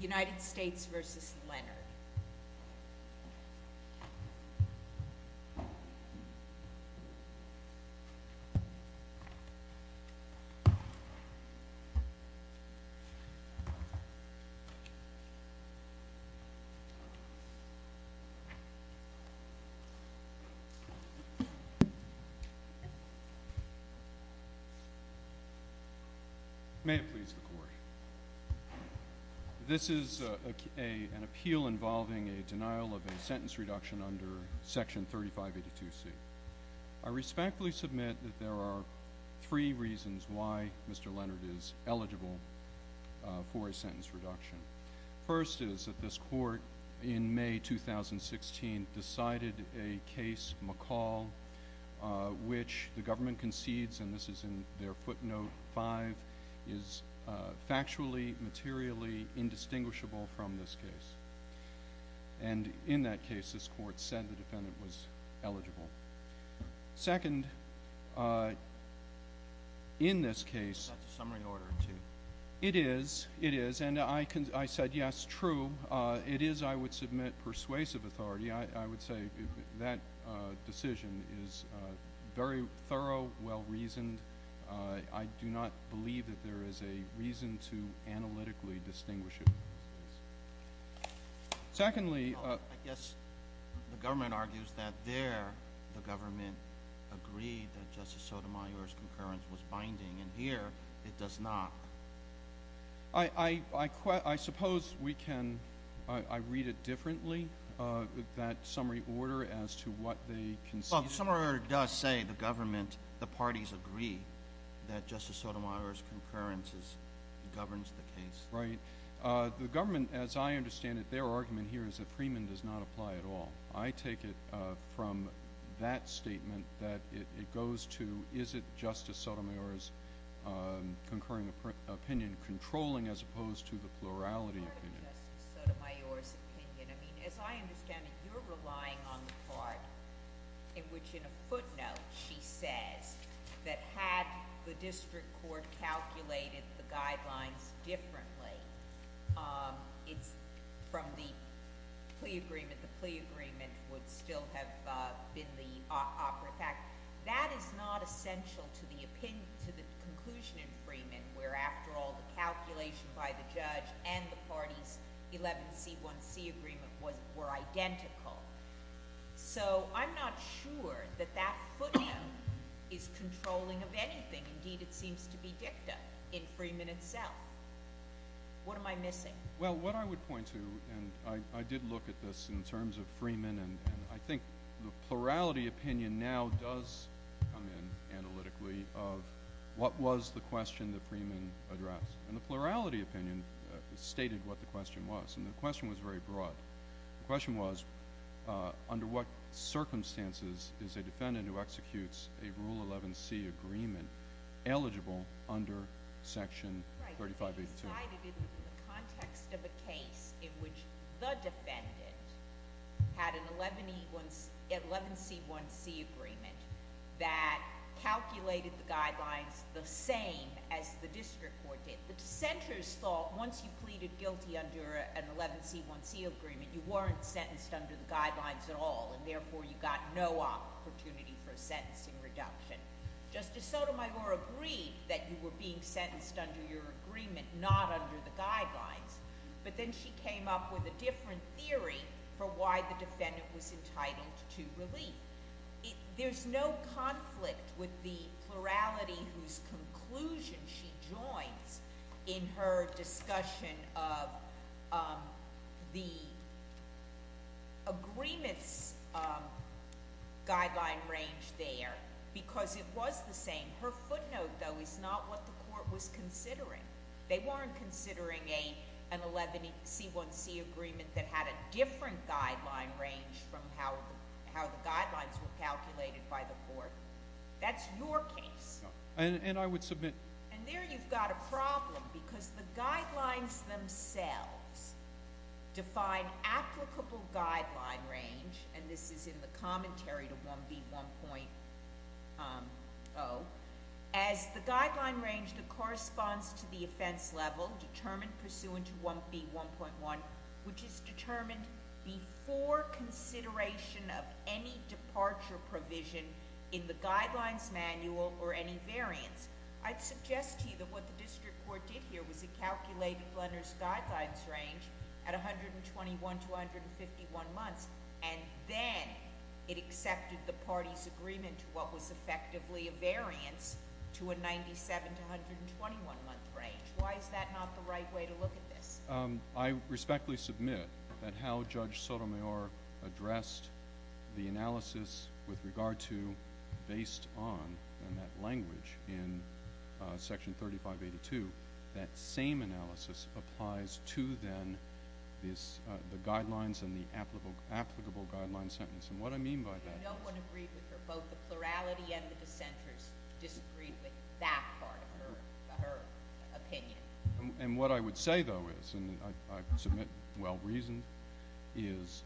United States v. Leonard May it please the Court. This is an appeal involving a denial of a sentence reduction under Section 3582C. I respectfully submit that there are three reasons why Mr. Leonard is eligible for a sentence reduction. First is that this Court in May 2016 decided a case, McCall, which the government concedes, and this is in their footnote 5, is factually, materially indistinguishable from this case. And in that case, this Court said the defendant was eligible. Second, in this case... That's a summary order, too. It is, it is, and I said yes, true. It is, I would submit, persuasive authority. I would say that decision is very thorough, well-reasoned. I do not believe that there is a reason to analytically distinguish it. Secondly... I guess the government argues that there the government agreed that Justice Sotomayor's concurrence was binding, and here it does not. I suppose we can, I read it differently, that summary order as to what they concede. Well, the summary order does say the government, the parties agree that Justice Sotomayor's concurrence governs the case. Right. The government, as I understand it, their argument here is that Freeman does not apply at all. I take it from that statement that it goes to, is it Justice Sotomayor's concurring opinion controlling as opposed to the plurality opinion? It's part of Justice Sotomayor's opinion. I mean, as I understand it, you're relying on the part in which in a footnote she says that had the District Court calculated the guidelines differently, it's from the plea agreement, the plea agreement would still have been the operative act. That is not essential to the opinion, to the conclusion in Freeman, where after all the calculation by the judge and the parties' 11C1C agreement were identical. So, I'm not sure that that footnote is controlling of anything. Indeed, it seems to be dicta in Freeman itself. What am I missing? Well, what I would point to, and I did look at this in terms of Freeman, and I think the plurality opinion now does come in analytically of what was the question that Freeman addressed. And the plurality opinion stated what the question was, and the question was very broad. The question was, under what circumstances is a defendant who executes a Rule 11C agreement eligible under Section 3582? Right. It was decided in the context of a case in which the defendant had an 11C1C agreement that calculated the guidelines the same as the District Court did. The dissenters thought once you pleaded guilty under an 11C1C agreement, you weren't sentenced under the guidelines at all, and therefore you got no opportunity for a sentencing reduction. Justice Sotomayor agreed that you were being sentenced under your agreement, not under the guidelines. But then she came up with a different theory for why the defendant was entitled to relief. There's no conflict with the plurality whose conclusion she joins in her discussion of the agreement's guideline range there because it was the same. Her footnote, though, is not what the Court was considering. They weren't considering an 11C1C agreement that had a different guideline range from how the guidelines were calculated by the Court. That's your case. And I would submit— And there you've got a problem because the guidelines themselves define applicable guideline range, and this is in the commentary to 1B1.0, as the guideline range that corresponds to the offense level determined pursuant to 1B1.1, which is determined before consideration of any departure provision in the Guidelines Manual or any variance. I'd suggest to you that what the district court did here was it calculated Blender's guidelines range at 121 to 151 months, and then it accepted the party's agreement to what was effectively a variance to a 97 to 121-month range. Why is that not the right way to look at this? I respectfully submit that how Judge Sotomayor addressed the analysis with regard to, based on that language in Section 3582, that same analysis applies to, then, the guidelines and the applicable guideline sentence. And what I mean by that is— No one agreed with her. Both the plurality and the dissenters disagreed with that part of her opinion. And what I would say, though, is—and I submit well-reasoned— is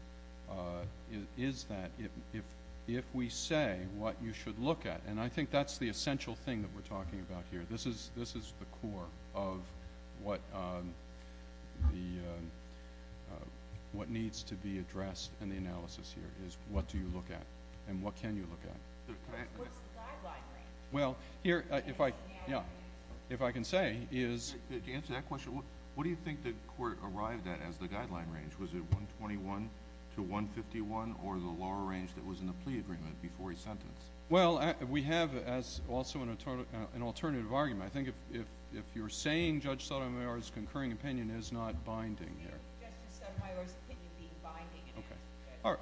that if we say what you should look at—and I think that's the essential thing that we're talking about here. This is the core of what needs to be addressed in the analysis here, is what do you look at and what can you look at. What's the guideline range? Well, here, if I can say, is— To answer that question, what do you think the Court arrived at as the guideline range? Was it 121 to 151 or the lower range that was in the plea agreement before he sentenced? Well, we have, also, an alternative argument. I think if you're saying Judge Sotomayor's concurring opinion is not binding here— Judge Sotomayor's opinion being binding in answer to Judge Sotomayor's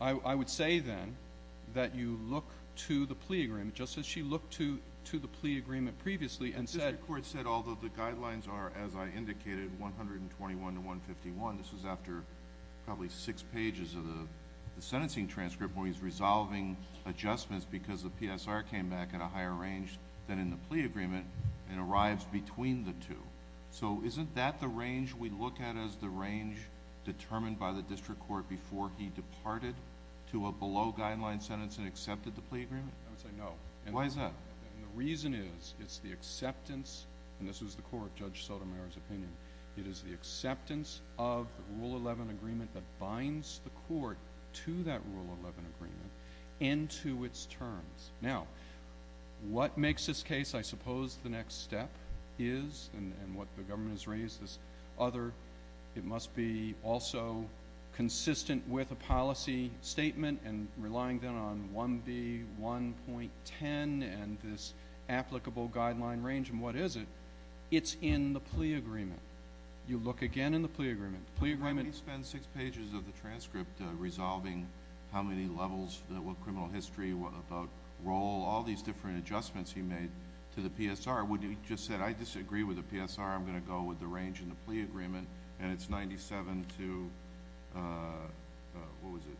question. I would say, then, that you look to the plea agreement, just as she looked to the plea agreement previously and said— The District Court said, although the guidelines are, as I indicated, 121 to 151, this was after probably six pages of the sentencing transcript where he's resolving adjustments because the PSR came back at a higher range than in the plea agreement and arrives between the two. So, isn't that the range we look at as the range determined by the District Court before he departed to a below-guideline sentence and accepted the plea agreement? I would say no. Why is that? The reason is, it's the acceptance—and this is the Court, Judge Sotomayor's opinion— it is the acceptance of the Rule 11 agreement that binds the Court to that Rule 11 agreement into its terms. Now, what makes this case, I suppose, the next step is—and what the government has raised as other— it must be also consistent with a policy statement and relying, then, on 1B1.10 and this applicable guideline range. And what is it? It's in the plea agreement. You look again in the plea agreement. Why would he spend six pages of the transcript resolving how many levels, what criminal history, about role, all these different adjustments he made to the PSR? Wouldn't he have just said, I disagree with the PSR, I'm going to go with the range in the plea agreement, and it's 97 to—what was it?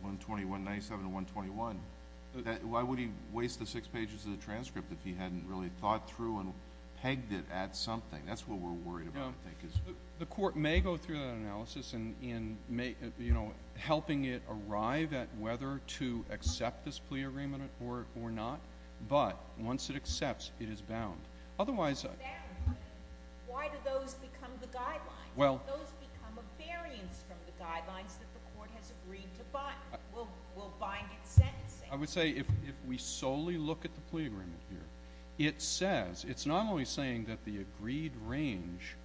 121. 97 to 121. Why would he waste the six pages of the transcript if he hadn't really thought through and pegged it at something? That's what we're worried about, I think, is— The Court may go through that analysis in helping it arrive at whether to accept this plea agreement or not. But once it accepts, it is bound. Otherwise— Why do those become the guidelines? Don't those become a variance from the guidelines that the Court has agreed to bind? Will bind its sentencing? I would say if we solely look at the plea agreement here, it says— The range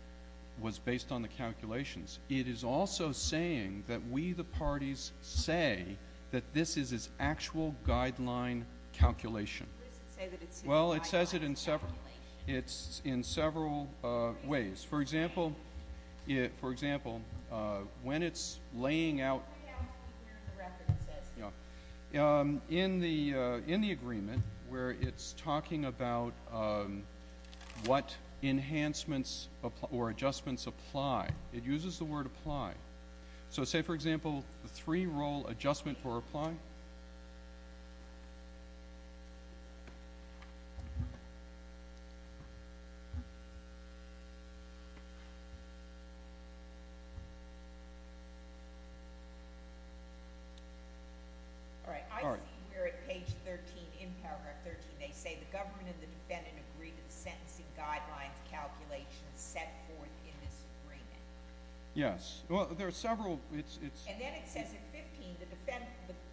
was based on the calculations. It is also saying that we, the parties, say that this is its actual guideline calculation. Well, it says it in several ways. For example, when it's laying out— or adjustments apply, it uses the word apply. So say, for example, the three-role adjustment or apply. All right, I see here at page 13, in paragraph 13, they say the government and the defendant agree to the sentencing guidelines calculations set forth in this agreement. Yes. Well, there are several— And then it says at 15, the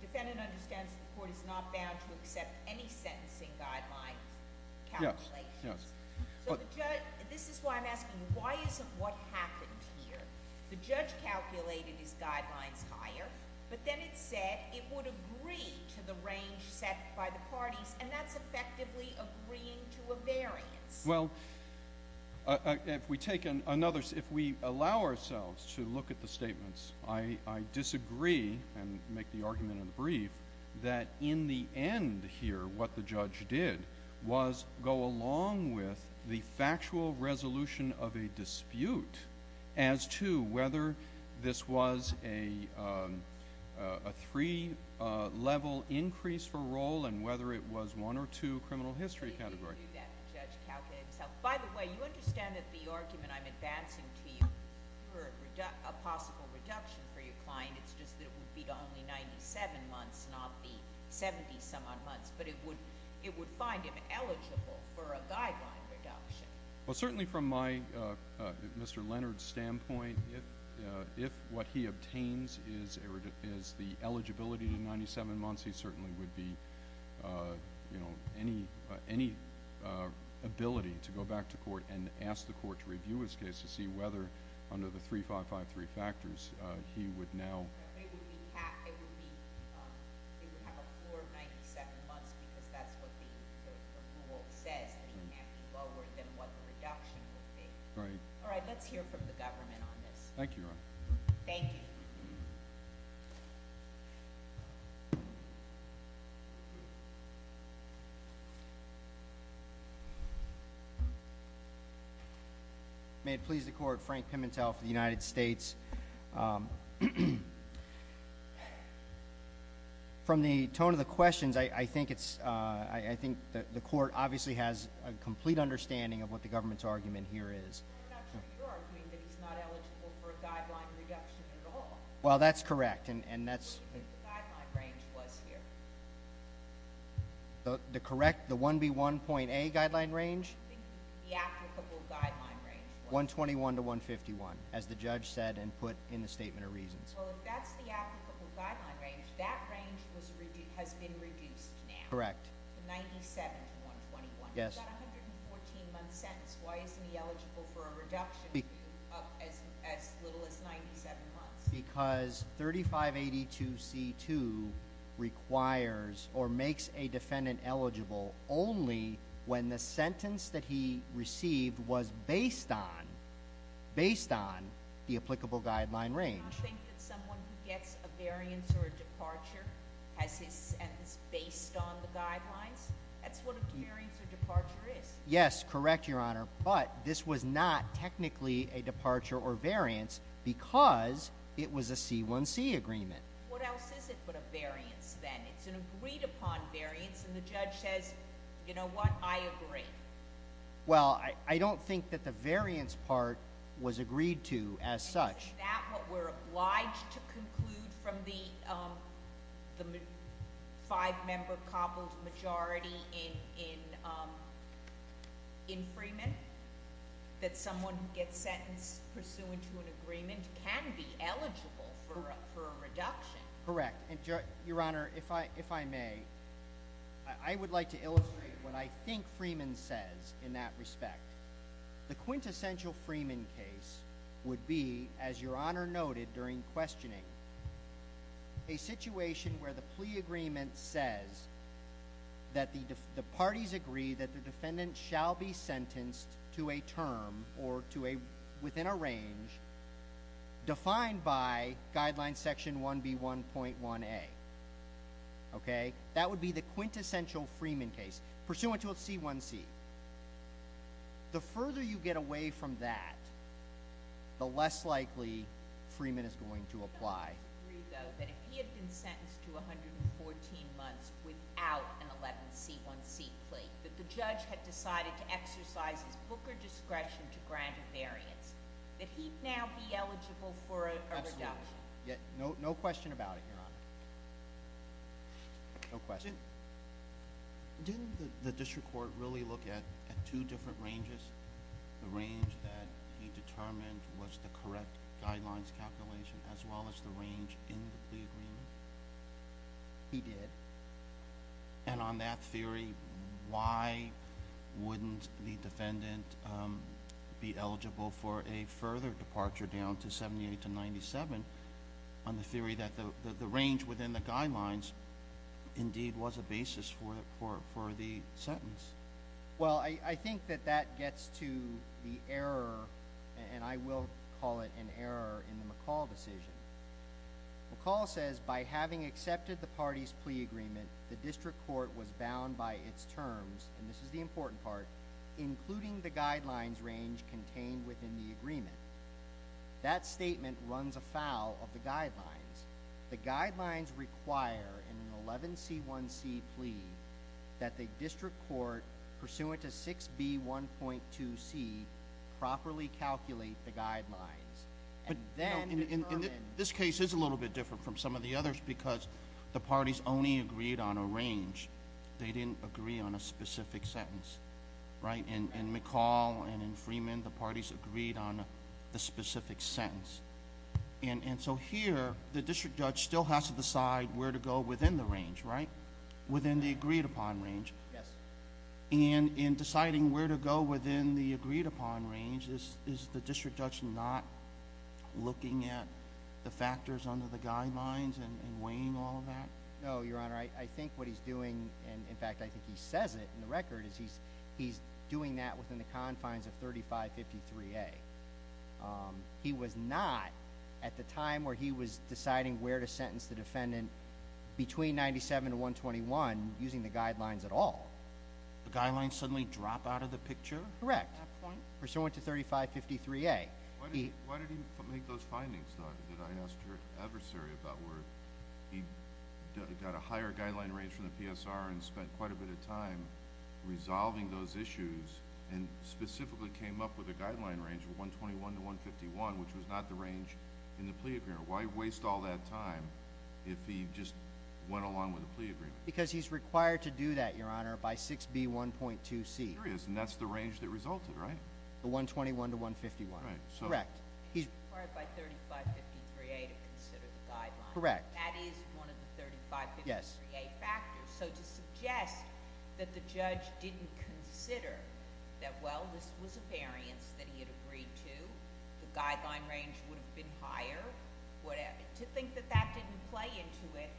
defendant understands the Court is not bound to accept any sentencing guidelines calculations. Yes, yes. This is why I'm asking, why isn't what happened here? The judge calculated his guidelines higher, but then it said it would agree to the range set by the parties, and that's effectively agreeing to a variance. Well, if we allow ourselves to look at the statements, I disagree and make the argument in the brief that in the end here, what the judge did was go along with the factual resolution of a dispute as to whether this was a three-level increase for role and whether it was one or two criminal history categories. He didn't do that. The judge calculated himself. By the way, you understand that the argument I'm advancing to you for a possible reduction for your client, it's just that it would be to only 97 months, not the 70-some-odd months, but it would find him eligible for a guideline reduction. Well, certainly from my, Mr. Leonard's standpoint, if what he obtains is the eligibility to 97 months, he certainly would be, you know, any ability to go back to court and ask the court to review his case to see whether under the 3553 factors he would now. It would have a floor of 97 months because that's what the rule says. It can't be lower than what the reduction would be. All right, let's hear from the government on this. Thank you, Your Honor. Thank you. May it please the Court, Frank Pimentel for the United States. From the tone of the questions, I think the court obviously has a complete understanding of what the government's argument here is. I'm not sure you're arguing that he's not eligible for a guideline reduction at all. Well, that's correct. What do you think the guideline range was here? The correct, the 1B1.A guideline range? The applicable guideline range. 121 to 151, as the judge said and put in the statement of reasons. Well, if that's the applicable guideline range, that range has been reduced now. Correct. 97 to 121. Yes. That 114-month sentence, why isn't he eligible for a reduction up as little as 97 months? Because 3582C2 requires or makes a defendant eligible only when the sentence that he received was based on the applicable guideline range. I think that someone who gets a variance or a departure has his sentence based on the guidelines. That's what a variance or departure is. Yes, correct, Your Honor. But this was not technically a departure or variance because it was a C1C agreement. What else is it but a variance then? It's an agreed upon variance and the judge says, you know what, I agree. Well, I don't think that the variance part was agreed to as such. Isn't that what we're obliged to conclude from the five-member coupled majority in Freeman, that someone who gets sentenced pursuant to an agreement can be eligible for a reduction? Correct. Your Honor, if I may, I would like to illustrate what I think Freeman says in that respect. The quintessential Freeman case would be, as Your Honor noted during questioning, a situation where the plea agreement says that the parties agree that the defendant shall be sentenced to a term or within a range defined by guideline section 1B1.1A. Okay? That would be the quintessential Freeman case pursuant to a C1C. The further you get away from that, the less likely Freeman is going to apply. I don't disagree, though, that if he had been sentenced to 114 months without an 11C1C plea, that the judge had decided to exercise his booker discretion to grant a variance, that he'd now be eligible for a reduction. No question about it, Your Honor. No question. Didn't the district court really look at two different ranges, the range that he determined was the correct guidelines calculation as well as the range in the plea agreement? He did. And on that theory, why wouldn't the defendant be eligible for a further departure down to 78 to 97 on the theory that the range within the guidelines indeed was a basis for the sentence? Well, I think that that gets to the error, and I will call it an error, in the McCall decision. McCall says, by having accepted the parties' plea agreement, the district court was bound by its terms, and this is the important part, including the guidelines range contained within the agreement. That statement runs afoul of the guidelines. The guidelines require in an 11C1C plea that the district court, pursuant to 6B1.2C, properly calculate the guidelines and then determine— But, you know, this case is a little bit different from some of the others because the parties only agreed on a range. They didn't agree on a specific sentence, right? In McCall and in Freeman, the parties agreed on the specific sentence. And so here, the district judge still has to decide where to go within the range, right? Within the agreed-upon range. Yes. And in deciding where to go within the agreed-upon range, is the district judge not looking at the factors under the guidelines and weighing all of that? No, Your Honor. I think what he's doing, and in fact I think he says it in the record, is he's doing that within the confines of 3553A. He was not, at the time where he was deciding where to sentence the defendant, between 97 and 121, using the guidelines at all. The guidelines suddenly drop out of the picture? Correct. At that point? Pursuant to 3553A. Why did he make those findings, though, that I asked your adversary about, where he got a higher guideline range from the PSR and spent quite a bit of time resolving those issues and specifically came up with a guideline range of 121 to 151, which was not the range in the plea agreement? Why waste all that time if he just went along with the plea agreement? Because he's required to do that, Your Honor, by 6B1.2C. And that's the range that resulted, right? The 121 to 151. Correct. He's required by 3553A to consider the guidelines. Correct. That is one of the 3553A factors. So to suggest that the judge didn't consider that, well, this was a variance that he had agreed to, the guideline range would have been higher, whatever, to think that that didn't play into it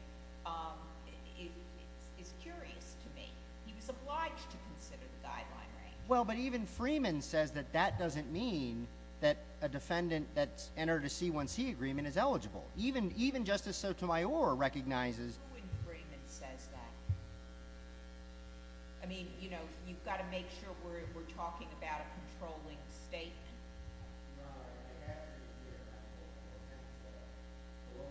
is curious to me. He was obliged to consider the guideline range. Well, but even Freeman says that that doesn't mean that a defendant that's entered a C1C agreement is eligible. Even Justice Sotomayor recognizes— Who in Freeman says that? I mean, you know, you've got to make sure we're talking about a controlling statement. Your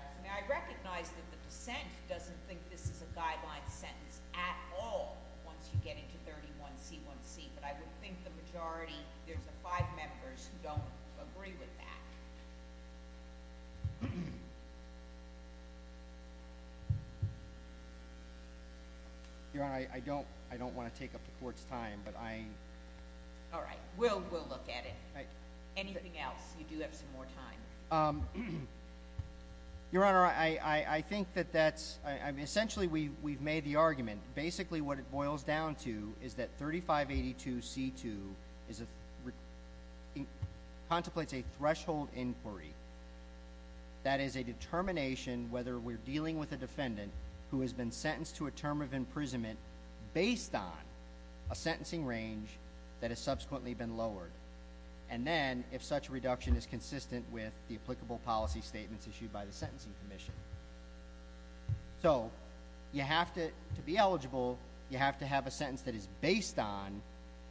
Honor, I recognize that the dissent doesn't think this is a guideline sentence at all once you get into 31C1C, but I would think the majority, there's five members who don't agree with that. Your Honor, I don't want to take up the Court's time, but I— All right, we'll look at it. Anything else? You do have some more time. Your Honor, I think that that's—essentially we've made the argument. Basically what it boils down to is that 3582C2 contemplates a threshold inquiry. That is a determination whether we're dealing with a defendant who has been sentenced to a term of imprisonment based on a sentencing range that has subsequently been lowered, and then if such a reduction is consistent with the applicable policy statements issued by the Sentencing Commission. So you have to—to be eligible, you have to have a sentence that is based on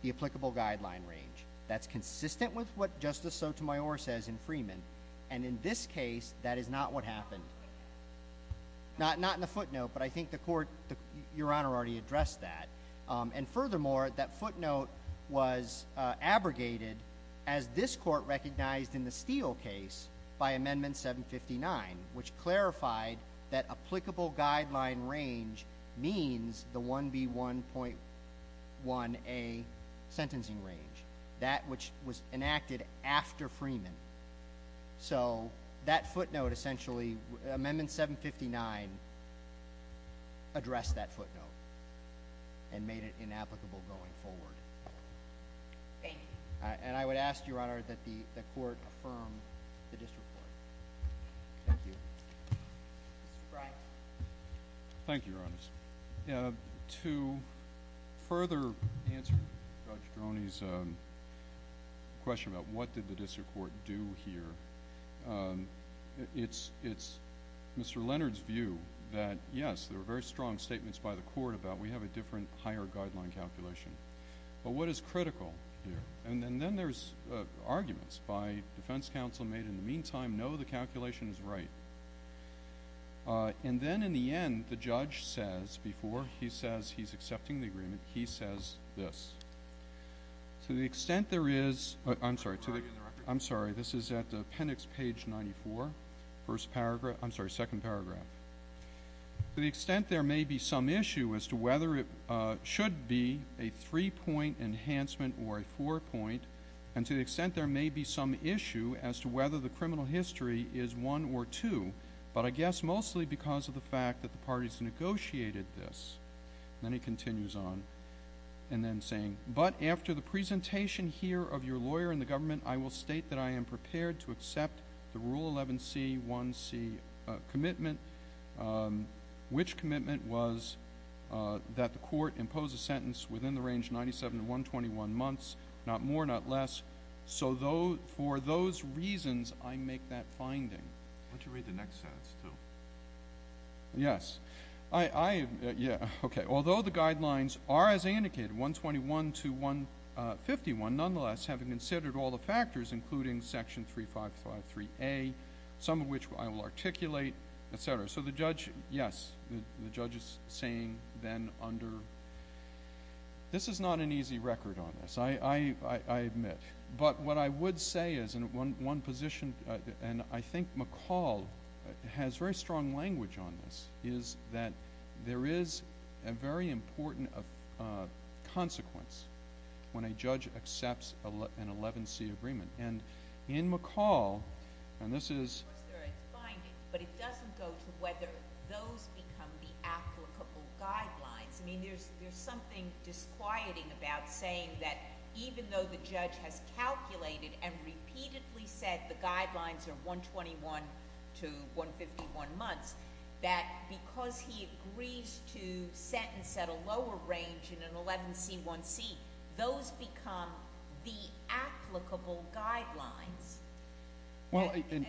the applicable guideline range. That's consistent with what Justice Sotomayor says in Freeman, and in this case, that is not what happened. Not in the footnote, but I think the Court—Your Honor already addressed that. And furthermore, that footnote was abrogated as this Court recognized in the Steele case by Amendment 759, which clarified that applicable guideline range means the 1B1.1A sentencing range, that which was enacted after Freeman. So that footnote essentially—Amendment 759 addressed that footnote and made it inapplicable going forward. Thank you. And I would ask, Your Honor, that the Court affirm the District Court. Thank you. Thank you, Your Honor. To further answer Judge Droney's question about what did the District Court do here, it's Mr. Leonard's view that, yes, there were very strong statements by the Court about, we have a different higher guideline calculation. But what is critical here? And then there's arguments by defense counsel made in the meantime, no, the calculation is right. And then, in the end, the judge says, before he says he's accepting the agreement, he says this. To the extent there is—I'm sorry. I'm sorry, this is at appendix page 94, first paragraph—I'm sorry, second paragraph. To the extent there may be some issue as to whether it should be a three-point enhancement or a four-point, and to the extent there may be some issue as to whether the criminal history is one or two, but I guess mostly because of the fact that the parties negotiated this. Then he continues on, and then saying, but after the presentation here of your lawyer and the government, I will state that I am prepared to accept the Rule 11c1c commitment, which commitment was that the Court impose a sentence within the range of 97 to 121 months, not more, not less. So for those reasons, I make that finding. Why don't you read the next sentence, too? Yes. Although the guidelines are as I indicated, 121 to 151, nonetheless, having considered all the factors, including section 3553A, some of which I will articulate, et cetera. So the judge, yes, the judge is saying then under—this is not an easy record on this. I admit. But what I would say is in one position, and I think McCall has very strong language on this, is that there is a very important consequence when a judge accepts an 11c agreement. And in McCall, and this is— Of course there are findings, but it doesn't go to whether those become the applicable guidelines. I mean, there's something disquieting about saying that even though the judge has calculated and repeatedly said the guidelines are 121 to 151 months, that because he agrees to sentence at a lower range in an 11c1c, those become the applicable guidelines. I mean,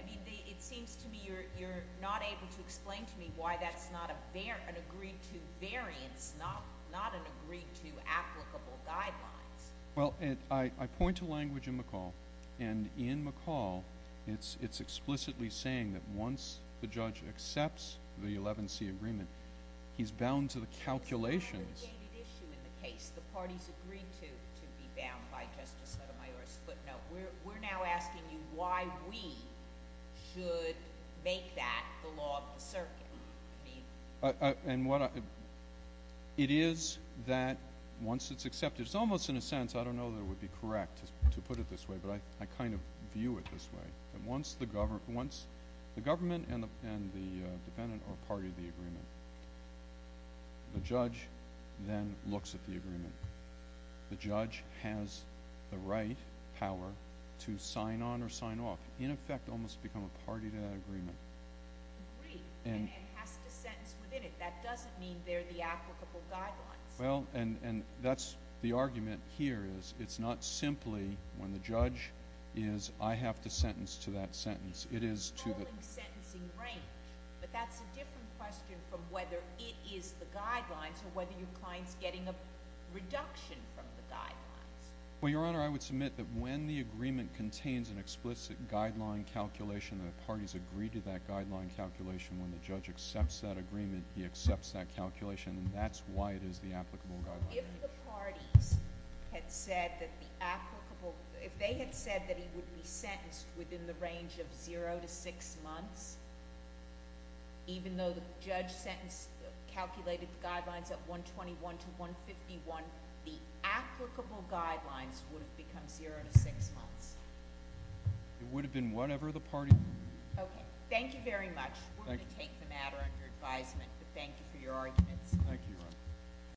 it seems to me you're not able to explain to me why that's not an agreed-to variance, not an agreed-to applicable guidelines. Well, I point to language in McCall, and in McCall it's explicitly saying that once the judge accepts the 11c agreement, he's bound to the calculations. It's an aggregated issue in the case. The parties agreed to be bound by Justice Sotomayor's footnote. We're now asking you why we should make that the law of the circuit. And what I—it is that once it's accepted— it's almost, in a sense, I don't know that it would be correct to put it this way, but I kind of view it this way. Once the government and the defendant are part of the agreement, the judge then looks at the agreement. The judge has the right power to sign on or sign off, in effect almost become a party to that agreement. Agreed, and it has to sentence within it. That doesn't mean they're the applicable guidelines. Well, and that's—the argument here is it's not simply when the judge is, I have to sentence to that sentence. It is to the— It's the following sentencing range, but that's a different question from whether it is the guidelines or whether your client's getting a reduction from the guidelines. Well, Your Honor, I would submit that when the agreement contains an explicit guideline calculation, the parties agree to that guideline calculation. When the judge accepts that agreement, he accepts that calculation, and that's why it is the applicable guideline. If the parties had said that the applicable— if they had said that he would be sentenced within the range of zero to six months, even though the judge calculated the guidelines at 121 to 151, the applicable guidelines would have become zero to six months. It would have been whatever the party— Okay. Thank you very much. We're going to take the matter under advisement, but thank you for your arguments. Thank you, Your Honor.